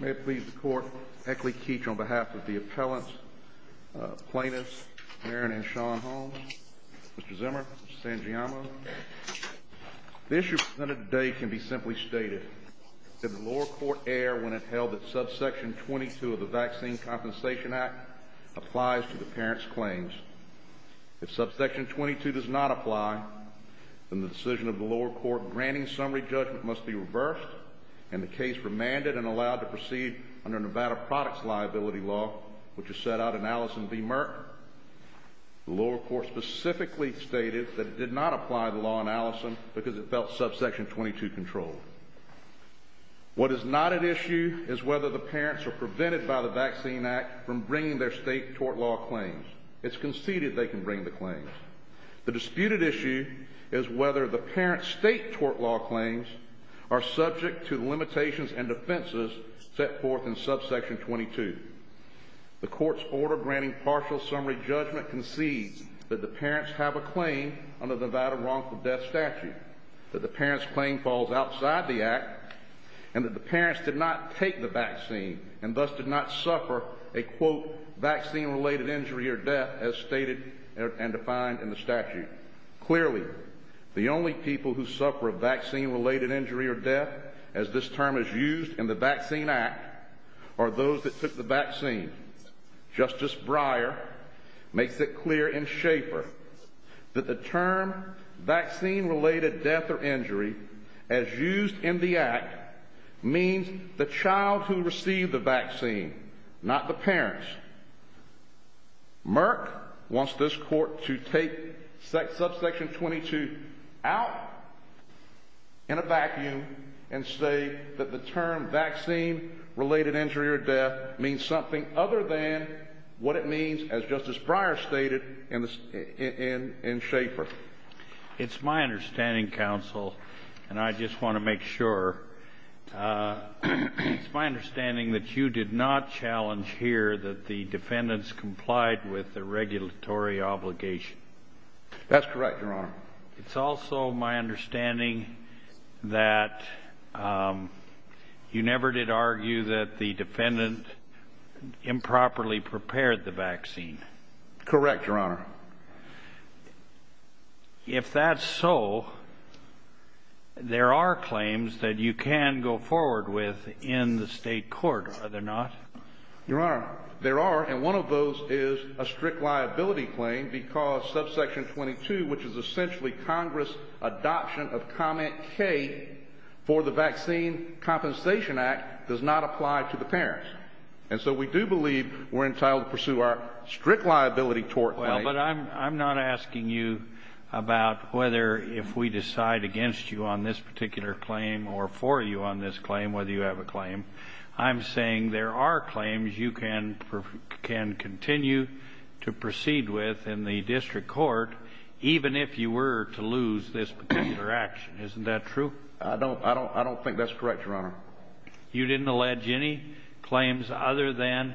May it please the court, Eckley Keech on behalf of the appellants, plaintiffs, Merrin and Sean Holmes, Mr. Zimmer, Mr. Sangiamo. The issue presented today can be simply stated that the lower court erred when it held that subsection 22 of the Vaccine Compensation Act applies to the parent's claims. If subsection 22 does not apply, then the decision of the lower court granting summary judgment must be reversed and the case remanded and allowed to proceed under Nevada Products Liability Law, which is set out in Allison v. Merck. The lower court specifically stated that it did not apply the law in Allison because it felt subsection 22 controlled. What is not at issue is whether the parents are prevented by the Vaccine Act from bringing their state tort law claims. It's conceded they can bring the claims. The disputed issue is whether the parent's state tort law claims are subject to the limitations and defenses set forth in subsection 22. The court's order granting partial summary judgment concedes that the parents have a claim under the Nevada Wrongful Death Statute, that the parent's claim falls outside the act, and that the parents did not take the vaccine and thus did not suffer a, quote, vaccine-related injury or death as stated and defined in the statute. Clearly, the only people who suffer a vaccine-related injury or death, as this term is used in the Vaccine Act, are those that took the vaccine. Justice Breyer makes it clear in Schaefer that the term vaccine-related death or injury, as used in the act, means the child who received the vaccine, not the parents. Merck wants this court to take subsection 22 out in a vacuum and say that the term vaccine-related injury or death means something other than what it means, as Justice Breyer stated in Schaefer. It's my understanding, counsel, and I just want to make sure, it's my understanding that you did not challenge here that the defendants complied with the regulatory obligation. That's correct, Your Honor. It's also my understanding that you never did argue that the defendant improperly prepared the vaccine. Correct, Your Honor. If that's so, there are claims that you can go forward with in the state court, are there not? Your Honor, there are, and one of those is a strict liability claim because subsection 22, which is essentially Congress' adoption of comment K for the Vaccine Compensation Act, does not apply to the parents. And so we do believe we're entitled to pursue our strict liability tort case. Well, but I'm not asking you about whether if we decide against you on this particular claim or for you on this claim, whether you have a claim. I'm saying there are claims you can continue to proceed with in the district court, even if you were to lose this particular action. Isn't that true? I don't think that's correct, Your Honor. You didn't allege any claims other than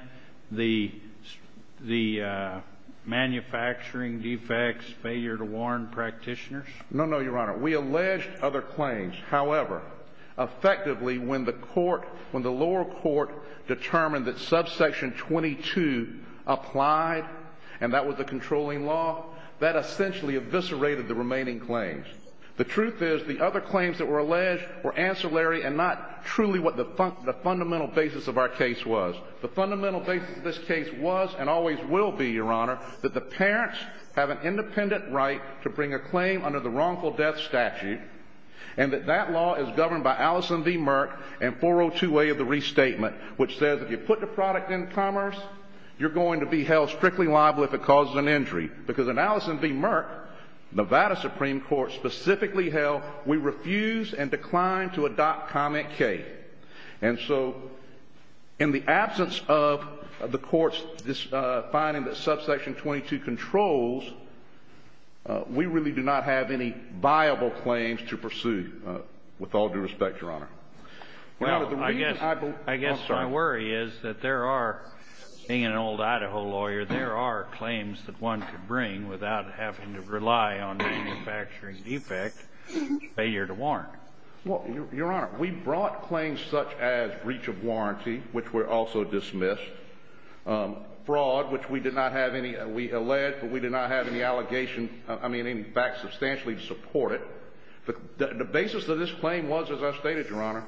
the manufacturing defects, failure to warn practitioners? No, no, Your Honor. We alleged other claims. However, effectively, when the lower court determined that subsection 22 applied and that was the controlling law, that essentially eviscerated the remaining claims. The truth is the other claims that were alleged were ancillary and not truly what the fundamental basis of our case was. The fundamental basis of this case was and always will be, Your Honor, that the parents have an independent right to bring a claim under the wrongful death statute and that that law is governed by Allison v. Merck and 402A of the restatement, which says if you put the product in commerce, you're going to be held strictly liable if it causes an injury. Because in Allison v. Merck, Nevada Supreme Court specifically held we refuse and decline to adopt comment K. And so in the absence of the court's finding that subsection 22 controls, we really do not have any viable claims to pursue, with all due respect, Your Honor. Well, I guess my worry is that there are, being an old Idaho lawyer, there are claims that one could bring without having to rely on manufacturing defect failure to warrant. Well, Your Honor, we brought claims such as breach of warranty, which were also dismissed, fraud, which we did not have any, we alleged, but we did not have any allegation, I mean, in fact, substantially to support it. The basis of this claim was, as I stated, Your Honor,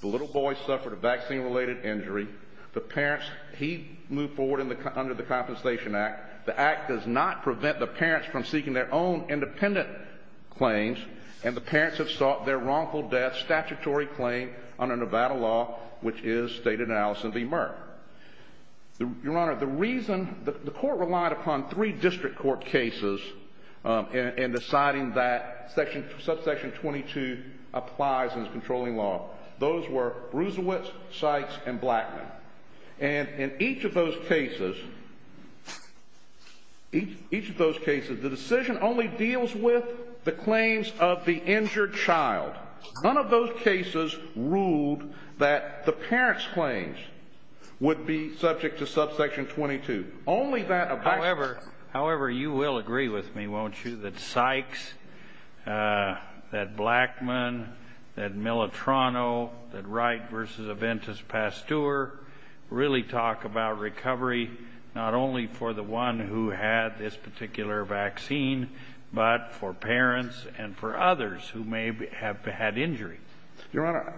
the little boy suffered a vaccine-related injury. The parents, he moved forward under the Compensation Act. The Act does not prevent the parents from seeking their own independent claims, and the parents have sought their wrongful death statutory claim under Nevada law, which is stated in Allison v. Merck. Your Honor, the reason, the court relied upon three district court cases in deciding that subsection 22 applies as controlling law. Those were Rusewitz, Sykes, and Blackman. And in each of those cases, each of those cases, the decision only deals with the claims of the injured child. None of those cases ruled that the parents' claims would be subject to subsection 22. However, you will agree with me, won't you, that Sykes, that Blackman, that Militrano, that Wright v. Aventis-Pasteur really talk about recovery not only for the one who had this particular vaccine, but for parents and for others who may have had injury. Your Honor,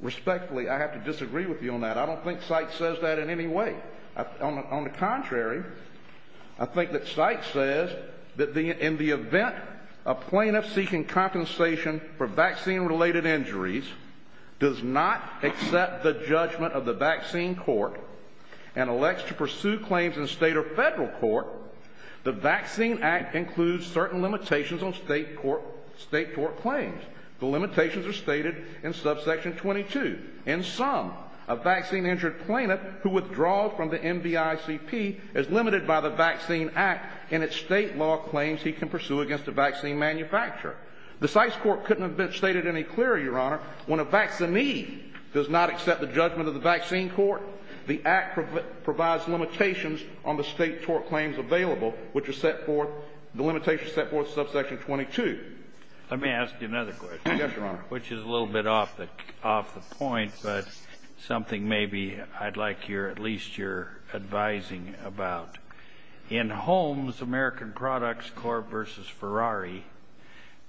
respectfully, I have to disagree with you on that. I don't think Sykes says that in any way. On the contrary, I think that Sykes says that in the event a plaintiff seeking compensation for vaccine-related injuries does not accept the judgment of the vaccine court and elects to pursue claims in state or federal court, the Vaccine Act includes certain limitations on state court claims. The limitations are stated in subsection 22. In sum, a vaccine-injured plaintiff who withdraws from the NVICP is limited by the Vaccine Act and its state law claims he can pursue against a vaccine manufacturer. The Sykes Court couldn't have been stated any clearer, Your Honor, when a vaccinee does not accept the judgment of the vaccine court. The Act provides limitations on the state court claims available, which are set forth, the limitations set forth in subsection 22. Let me ask you another question. Yes, Your Honor. Which is a little bit off the point, but something maybe I'd like at least your advising about. In Holmes American Products Corp. v. Ferrari,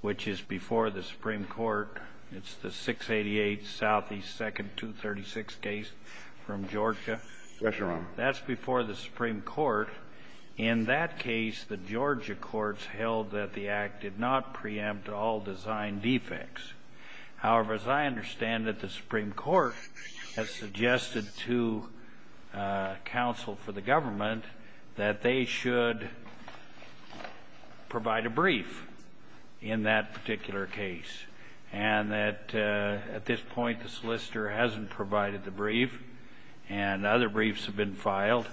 which is before the Supreme Court, it's the 688 Southeast 2nd 236 case from Georgia. Yes, Your Honor. That's before the Supreme Court. In that case, the Georgia courts held that the Act did not preempt all design defects. However, as I understand it, the Supreme Court has suggested to counsel for the government that they should provide a brief in that particular case, and that at this point the solicitor hasn't provided the brief, and other briefs have been filed.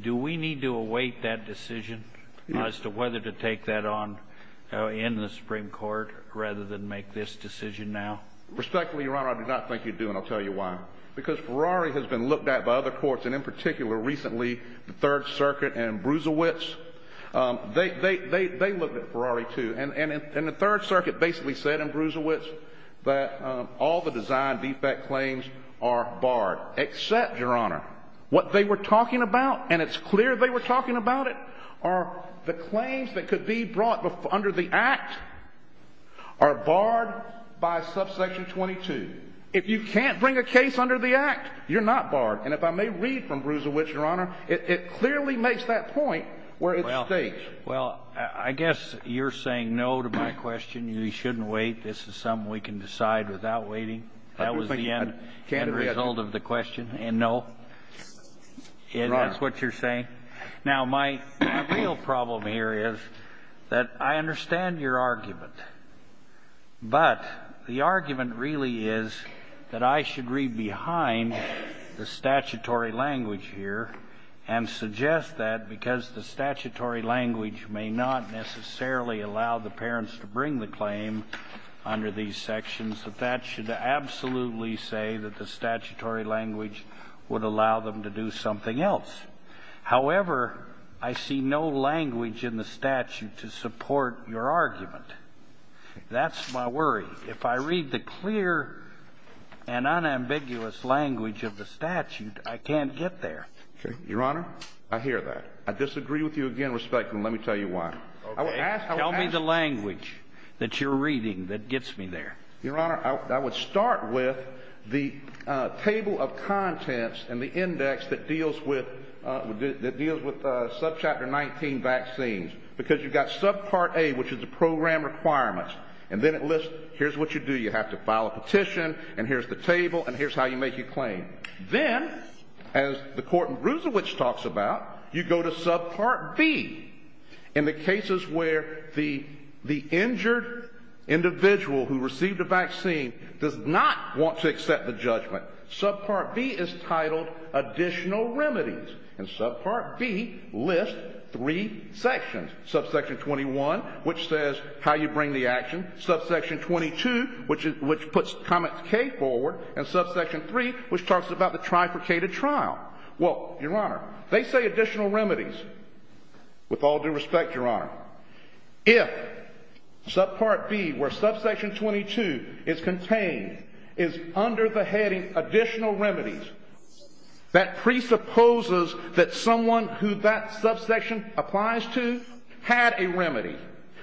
Do we need to await that decision as to whether to take that on in the Supreme Court rather than make this decision now? Respectfully, Your Honor, I do not think you do, and I'll tell you why. Because Ferrari has been looked at by other courts, and in particular recently the Third Circuit and Brusilowitz. They looked at Ferrari, too. And the Third Circuit basically said in Brusilowitz that all the design defect claims are barred, except, Your Honor, what they were talking about, and it's clear they were talking about it, are the claims that could be brought under the Act are barred by subsection 22. If you can't bring a case under the Act, you're not barred. And if I may read from Brusilowitz, Your Honor, it clearly makes that point where it's staged. Well, I guess you're saying no to my question. You shouldn't wait. This is something we can decide without waiting. That was the end result of the question, and no. That's what you're saying. Now, my real problem here is that I understand your argument, but the argument really is that I should read behind the statutory language here and suggest that because the statutory language may not necessarily allow the parents to bring the claim under these sections, that that should absolutely say that the statutory language would allow them to do something else. However, I see no language in the statute to support your argument. That's my worry. If I read the clear and unambiguous language of the statute, I can't get there. Your Honor, I hear that. I disagree with you again, respectfully, and let me tell you why. Tell me the language that you're reading that gets me there. Your Honor, I would start with the table of contents and the index that deals with subchapter 19 vaccines, because you've got subpart A, which is the program requirements, and then it lists here's what you do. You have to file a petition, and here's the table, and here's how you make your claim. Then, as the court in Brucewicz talks about, you go to subpart B. In the cases where the injured individual who received a vaccine does not want to accept the judgment, subpart B is titled Additional Remedies, and subpart B lists three sections, subsection 21, which says how you bring the action, subsection 22, which puts comment K forward, and subsection 3, which talks about the trifurcated trial. Well, Your Honor, they say Additional Remedies. With all due respect, Your Honor, if subpart B, where subsection 22 is contained, is under the heading Additional Remedies, that presupposes that someone who that subsection applies to had a remedy.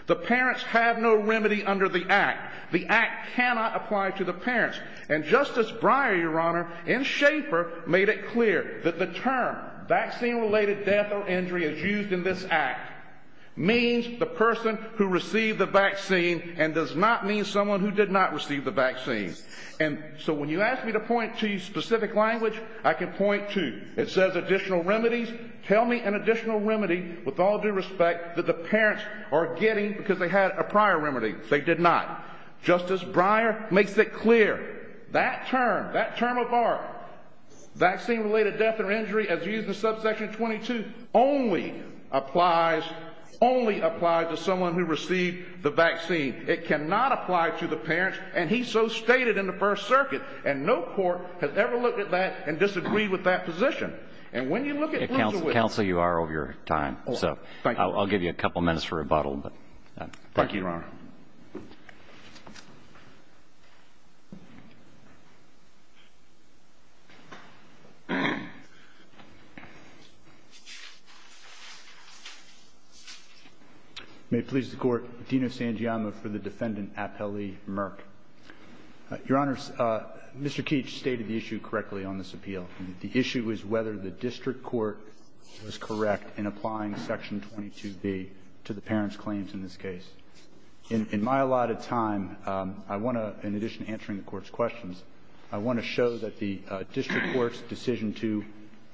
The parents have no remedy under the Act. The Act cannot apply to the parents, and Justice Breyer, Your Honor, in Schaefer, made it clear that the term vaccine-related death or injury as used in this Act means the person who received the vaccine and does not mean someone who did not receive the vaccine. And so when you ask me to point to specific language, I can point to it says Additional Remedies. Tell me an additional remedy, with all due respect, that the parents are getting because they had a prior remedy. They did not. Justice Breyer makes it clear that term, that term of art, vaccine-related death or injury as used in subsection 22, only applies, only applies to someone who received the vaccine. It cannot apply to the parents, and he so stated in the First Circuit, and no court has ever looked at that and disagreed with that position. And when you look at the way. Counsel, you are over your time, so I'll give you a couple minutes for a bottle. Thank you, Your Honor. May it please the Court, Dino Sangiamma for the defendant, Apelli Murk. Your Honor, Mr. Keach stated the issue correctly on this appeal. The issue is whether the district court was correct in applying section 22b to the parents' claims in this case. In my allotted time, I want to, in addition to answering the Court's questions, I want to show that the district court's decision to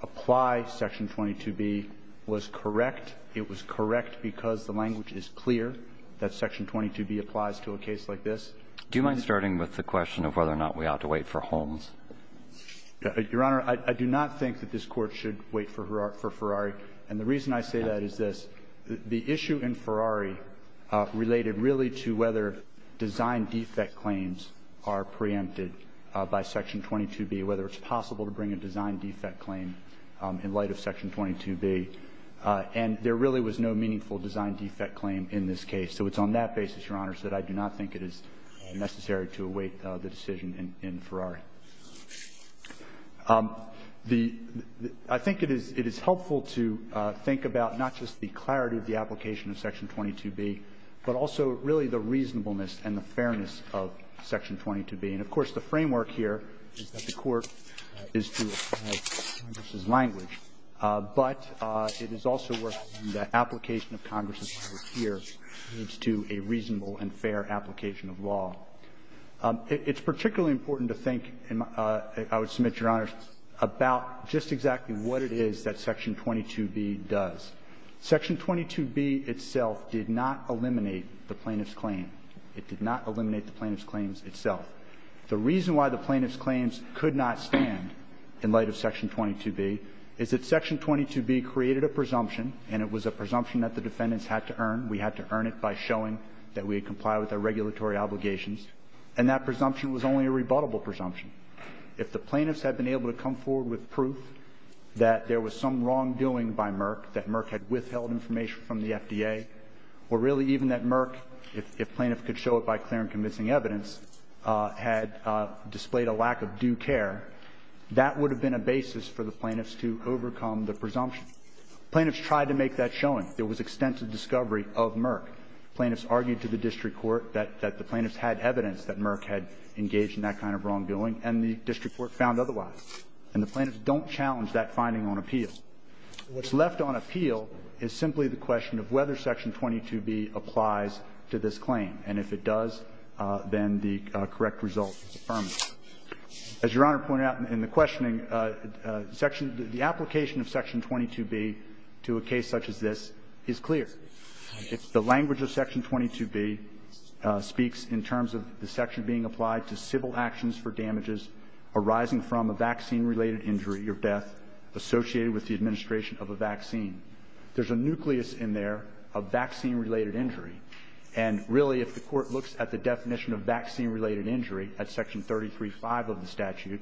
apply section 22b was correct. It was correct because the language is clear that section 22b applies to a case like this. Do you mind starting with the question of whether or not we ought to wait for Holmes? Your Honor, I do not think that this Court should wait for Ferrari. And the reason I say that is this. The issue in Ferrari related really to whether design defect claims are preempted by section 22b, whether it's possible to bring a design defect claim in light of section 22b. And there really was no meaningful design defect claim in this case. So it's on that basis, Your Honor, that I do not think it is necessary to await the decision in Ferrari. I think it is helpful to think about not just the clarity of the application of section 22b, but also really the reasonableness and the fairness of section 22b. And, of course, the framework here is that the Court is to apply Congress's language. But it is also where the application of Congress's language here leads to a reasonable and fair application of law. It's particularly important to think, I would submit, Your Honor, about just exactly what it is that section 22b does. Section 22b itself did not eliminate the plaintiff's claim. It did not eliminate the plaintiff's claims itself. The reason why the plaintiff's claims could not stand in light of section 22b is that section 22b created a presumption, and it was a presumption that the defendants had to earn. We had to earn it by showing that we had complied with our regulatory obligations. And that presumption was only a rebuttable presumption. If the plaintiffs had been able to come forward with proof that there was some wrongdoing by Merck, that Merck had withheld information from the FDA, or really even that Merck, if plaintiff could show it by clear and convincing evidence, had displayed a lack of due care, that would have been a basis for the plaintiffs to overcome the presumption. Plaintiffs tried to make that showing. There was extensive discovery of Merck. Plaintiffs argued to the district court that the plaintiffs had evidence that Merck had engaged in that kind of wrongdoing, and the district court found otherwise. And the plaintiffs don't challenge that finding on appeal. What's left on appeal is simply the question of whether section 22b applies to this claim. And if it does, then the correct result is affirmative. As Your Honor pointed out in the questioning, the application of section 22b to a case such as this is clear. The language of section 22b speaks in terms of the section being applied to civil actions for damages arising from a vaccine-related injury or death associated with the administration of a vaccine. There's a nucleus in there of vaccine-related injury. And really, if the Court looks at the definition of vaccine-related injury at section 33.5 of the statute,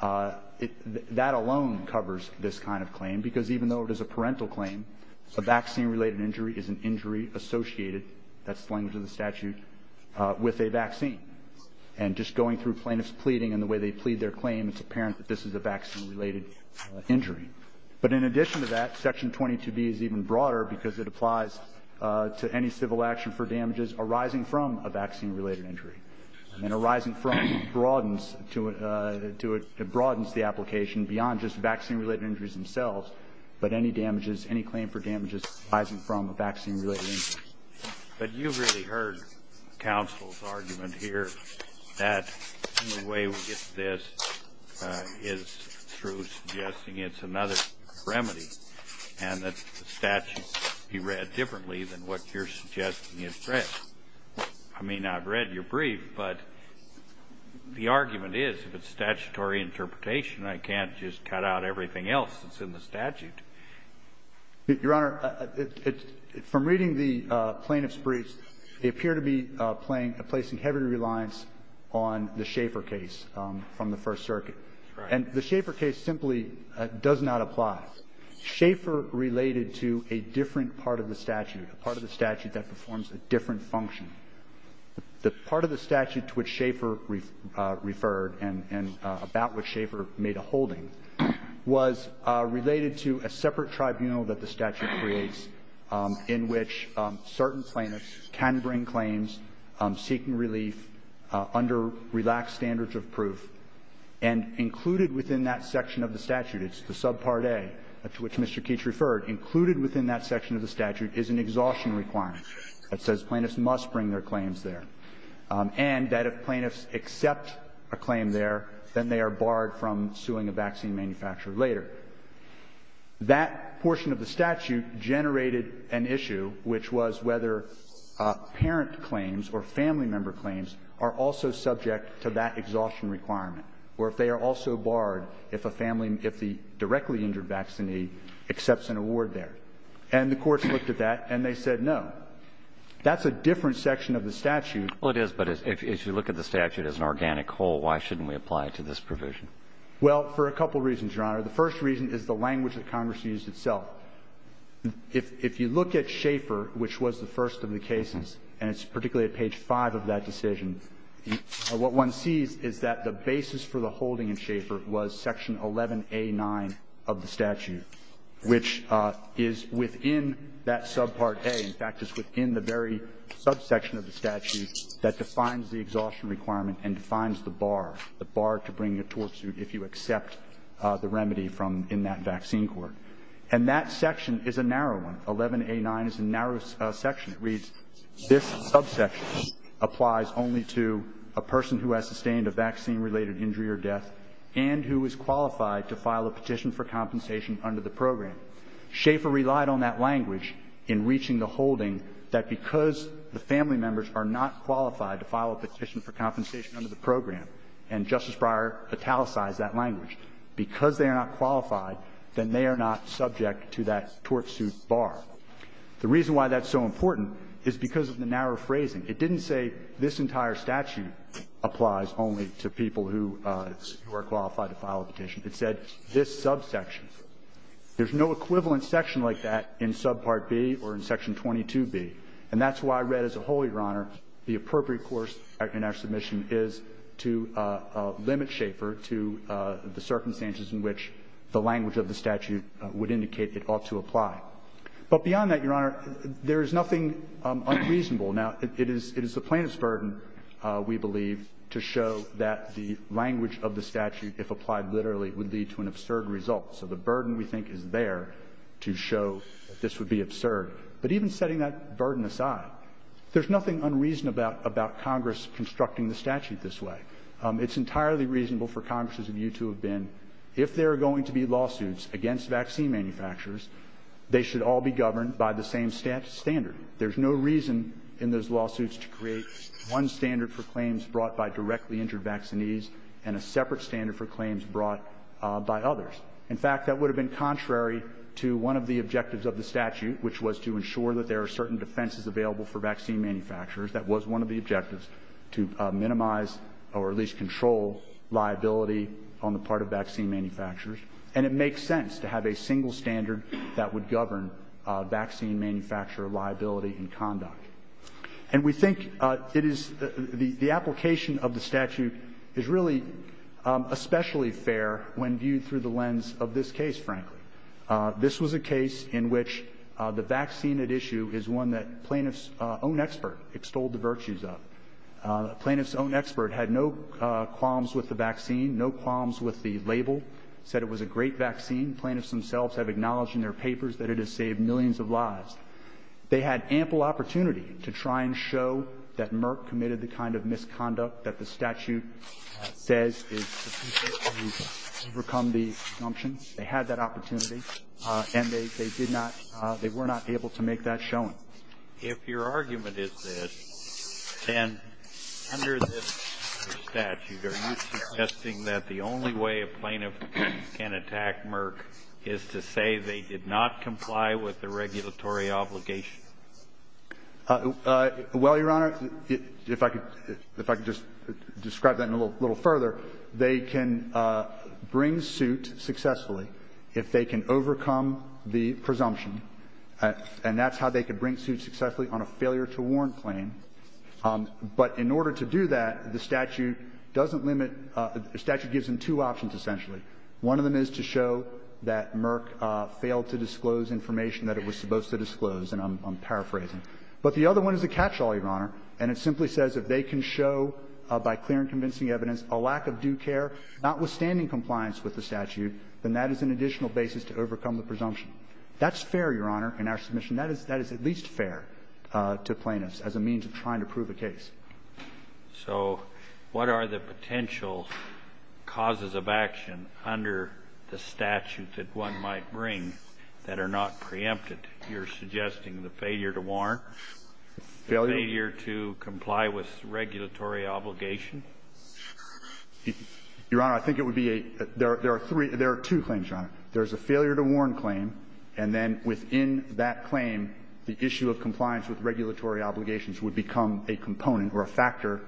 that alone covers this kind of claim, because even though it is a parental claim, a vaccine-related injury is an injury associated, that's the language of the statute, with a vaccine. And just going through plaintiffs' pleading and the way they plead their claim, it's apparent that this is a vaccine-related injury. But in addition to that, section 22b is even broader because it applies to any civil action for damages arising from a vaccine-related injury. And arising from broadens to a to a broadens the application beyond just vaccine-related injuries themselves, but any damages, any claim for damages arising from a vaccine-related injury. But you've really heard counsel's argument here that the only way we get to this is through suggesting it's another remedy and that the statute be read differently than what you're suggesting is read. I mean, I've read your brief, but the argument is if it's statutory interpretation, I can't just cut out everything else that's in the statute. Your Honor, from reading the plaintiffs' briefs, they appear to be placing heavy reliance on the Schaeffer case from the First Circuit. Right. And the Schaeffer case simply does not apply. Schaeffer related to a different part of the statute, a part of the statute that performs a different function. The part of the statute to which Schaeffer referred and about which Schaeffer made a holding was related to a separate tribunal that the statute creates in which certain plaintiffs can bring claims seeking relief under relaxed standards of proof. And included within that section of the statute, it's the subpart A to which Mr. Keach referred, included within that section of the statute is an exhaustion requirement that says plaintiffs must bring their claims there, and that if plaintiffs accept a claim there, then they are barred from suing a vaccine manufacturer later. That portion of the statute generated an issue, which was whether parent claims or family member claims are also subject to that exhaustion requirement, or if they are also barred if a family — if the directly injured vaccinee accepts an award there. And the courts looked at that, and they said no. That's a different section of the statute. Well, it is, but as you look at the statute as an organic whole, why shouldn't we apply it to this provision? Well, for a couple of reasons, Your Honor. The first reason is the language that Congress used itself. If you look at Schaeffer, which was the first of the cases, and it's particularly at page 5 of that decision, what one sees is that the basis for the holding in Schaeffer was section 11A9 of the statute, which is within that subpart A. In fact, it's within the very subsection of the statute that defines the exhaustion requirement and defines the bar, the bar to bring a tort suit if you accept the remedy from — in that vaccine court. And that section is a narrow one. 11A9 is a narrow section. It reads, this subsection applies only to a person who has sustained a vaccine- related injury or death and who is qualified to file a petition for compensation under the program. Schaeffer relied on that language in reaching the holding that because the family members are not qualified to file a petition for compensation under the program and Justice Breyer italicized that language, because they are not qualified, then they are not subject to that tort suit bar. The reason why that's so important is because of the narrow phrasing. It didn't say this entire statute applies only to people who are qualified to file a petition. It said this subsection. There's no equivalent section like that in subpart B or in section 22B. And that's why I read as a whole, Your Honor, the appropriate course in our submission is to limit Schaeffer to the circumstances in which the language of the statute would indicate it ought to apply. But beyond that, Your Honor, there is nothing unreasonable. Now, it is the plaintiff's burden, we believe, to show that the language of the statute, if applied literally, would lead to an absurd result. So the burden, we think, is there to show that this would be absurd. But even setting that burden aside, there's nothing unreasonable about Congress constructing the statute this way. It's entirely reasonable for Congress and you to have been, if there are going to be lawsuits against vaccine manufacturers, they should all be governed by the same standard. There's no reason in those lawsuits to create one standard for claims brought by others. In fact, that would have been contrary to one of the objectives of the statute, which was to ensure that there are certain defenses available for vaccine manufacturers. That was one of the objectives, to minimize or at least control liability on the part of vaccine manufacturers. And it makes sense to have a single standard that would govern vaccine manufacturer liability and conduct. And we think it is the application of the statute is really especially fair when viewed through the lens of this case, frankly. This was a case in which the vaccine at issue is one that plaintiff's own expert extolled the virtues of. The plaintiff's own expert had no qualms with the vaccine, no qualms with the label, said it was a great vaccine. Plaintiffs themselves have acknowledged in their papers that it has saved millions of lives. They had ample opportunity to try and show that Merck committed the kind of misconduct that the statute says is sufficient to overcome the presumption. They had that opportunity, and they did not, they were not able to make that showing. If your argument is this, then under this statute, are you suggesting that the only way a plaintiff can attack Merck is to say they did not comply with the regulatory obligation? Well, Your Honor, if I could just describe that a little further, they can bring suit successfully if they can overcome the presumption, and that's how they could bring suit successfully on a failure-to-warn claim. But in order to do that, the statute doesn't limit the statute gives them two options, essentially. One of them is to show that Merck failed to disclose information that it was supposed to disclose, and I'm paraphrasing. But the other one is a catch-all, Your Honor, and it simply says if they can show by clear and convincing evidence a lack of due care, notwithstanding compliance with the statute, then that is an additional basis to overcome the presumption. That's fair, Your Honor, in our submission. That is at least fair to plaintiffs as a means of trying to prove a case. So what are the potential causes of action under the statute that one might bring that are not preempted? You're suggesting the failure-to-warn? Failure? Failure to comply with regulatory obligation? Your Honor, I think it would be a – there are three – there are two claims, Your Honor. There's a failure-to-warn claim, and then within that claim, the issue of compliance with regulatory obligations would become a component or a factor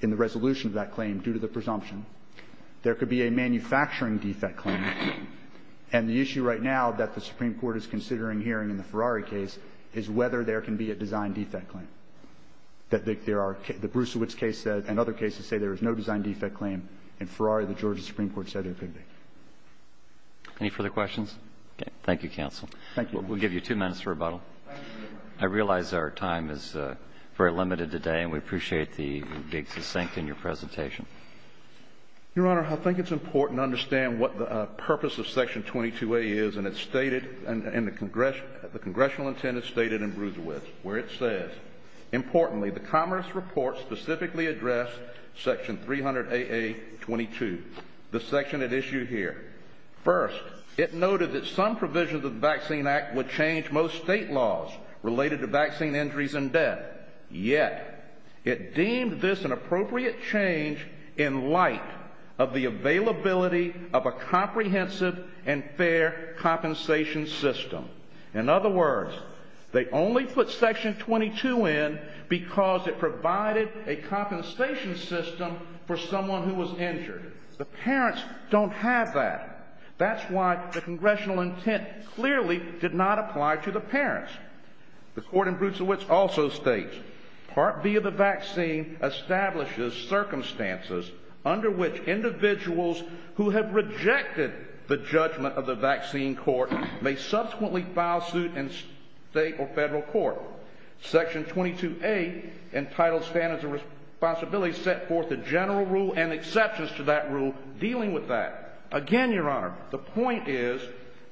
in the resolution of that claim due to the presumption. There could be a manufacturing defect claim. And the issue right now that the Supreme Court is considering hearing in the Ferrari case is whether there can be a design defect claim. There are – the Brusewitz case said – and other cases say there is no design defect claim. In Ferrari, the Georgia Supreme Court said there could be. Any further questions? Okay. Thank you, counsel. Thank you. We'll give you two minutes for rebuttal. Thank you very much. I realize our time is very limited today, and we appreciate the big succinct in your presentation. Your Honor, I think it's important to understand what the purpose of Section 22A is, and it's stated – and the congressional – the congressional intent is stated in Brusewitz, where it says, Importantly, the Commerce Report specifically addressed Section 300AA-22, the section at issue here. First, it noted that some provisions of the Vaccine Act would change most state laws related to vaccine injuries and death. Yet, it deemed this an appropriate change in light of the availability of a comprehensive and fair compensation system. In other words, they only put Section 22 in because it provided a compensation system for someone who was injured. The parents don't have that. That's why the congressional intent clearly did not apply to the parents. The court in Brusewitz also states, Part B of the vaccine establishes circumstances under which individuals who have rejected the judgment of the vaccine court may subsequently file suit in state or federal court. Section 22A, entitled Standards of Responsibility, set forth the general rule and exceptions to that rule dealing with that. Again, Your Honor, the point is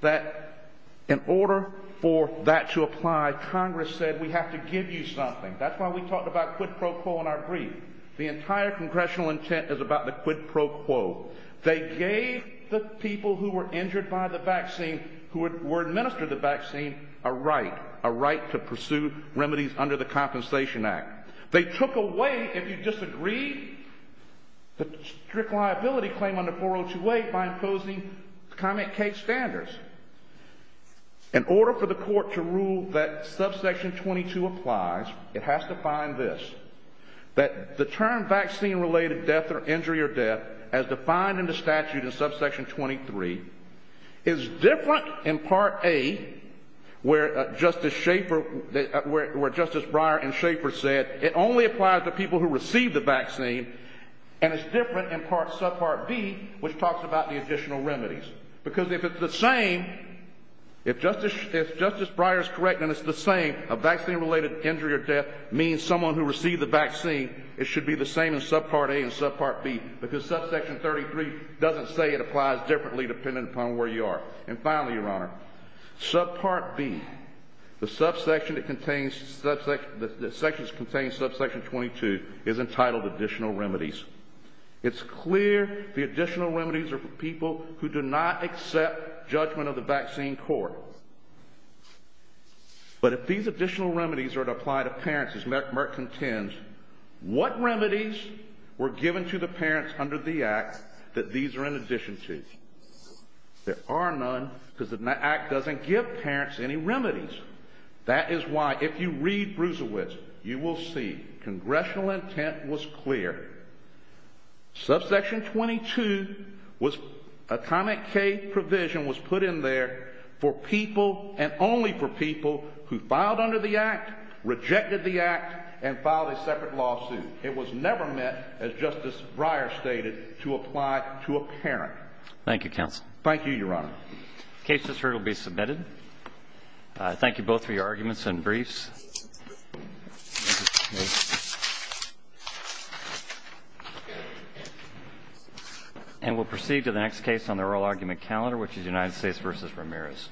that in order for that to apply, Congress said we have to give you something. That's why we talked about quid pro quo in our brief. The entire congressional intent is about the quid pro quo. They gave the people who were injured by the vaccine, who were administered the vaccine, a right, a right to pursue remedies under the Compensation Act. They took away, if you disagree, the strict liability claim under 4028 by imposing comment case standards. In order for the court to rule that Subsection 22 applies, it has to find this, that the term vaccine-related death or injury or death, as defined in the statute in Subsection 23, is different in Part A, where Justice Shaffer, where Justice Breyer and Shaffer said, it only applies to people who receive the vaccine, and it's different in Subpart B, which talks about the additional remedies. Because if it's the same, if Justice Breyer is correct and it's the same, a vaccine-related injury or death means someone who received the vaccine, it should be the same in Subpart A and Subpart B, because Subsection 33 doesn't say it applies differently depending upon where you are. And finally, Your Honor, Subpart B, the subsection that contains, the sections that contain Subsection 22 is entitled additional remedies. It's clear the additional remedies are for people who do not accept judgment of the vaccine court. But if these additional remedies are to apply to parents, as Merck contends, what remedies were given to the parents under the Act that these are in addition to? There are none, because the Act doesn't give parents any remedies. That is why, if you read Bruisewitz, you will see congressional intent was clear. Subsection 22 was, a comment K provision was put in there for people and only for people who filed under the Act, rejected the Act, and filed a separate lawsuit. It was never meant, as Justice Breyer stated, to apply to a parent. Thank you, Counsel. Thank you, Your Honor. The case has heard will be submitted. Thank you both for your arguments and briefs. And we'll proceed to the next case on the oral argument calendar, which is United States v. Ramirez. Thank you, Justice Breyer. Thank you.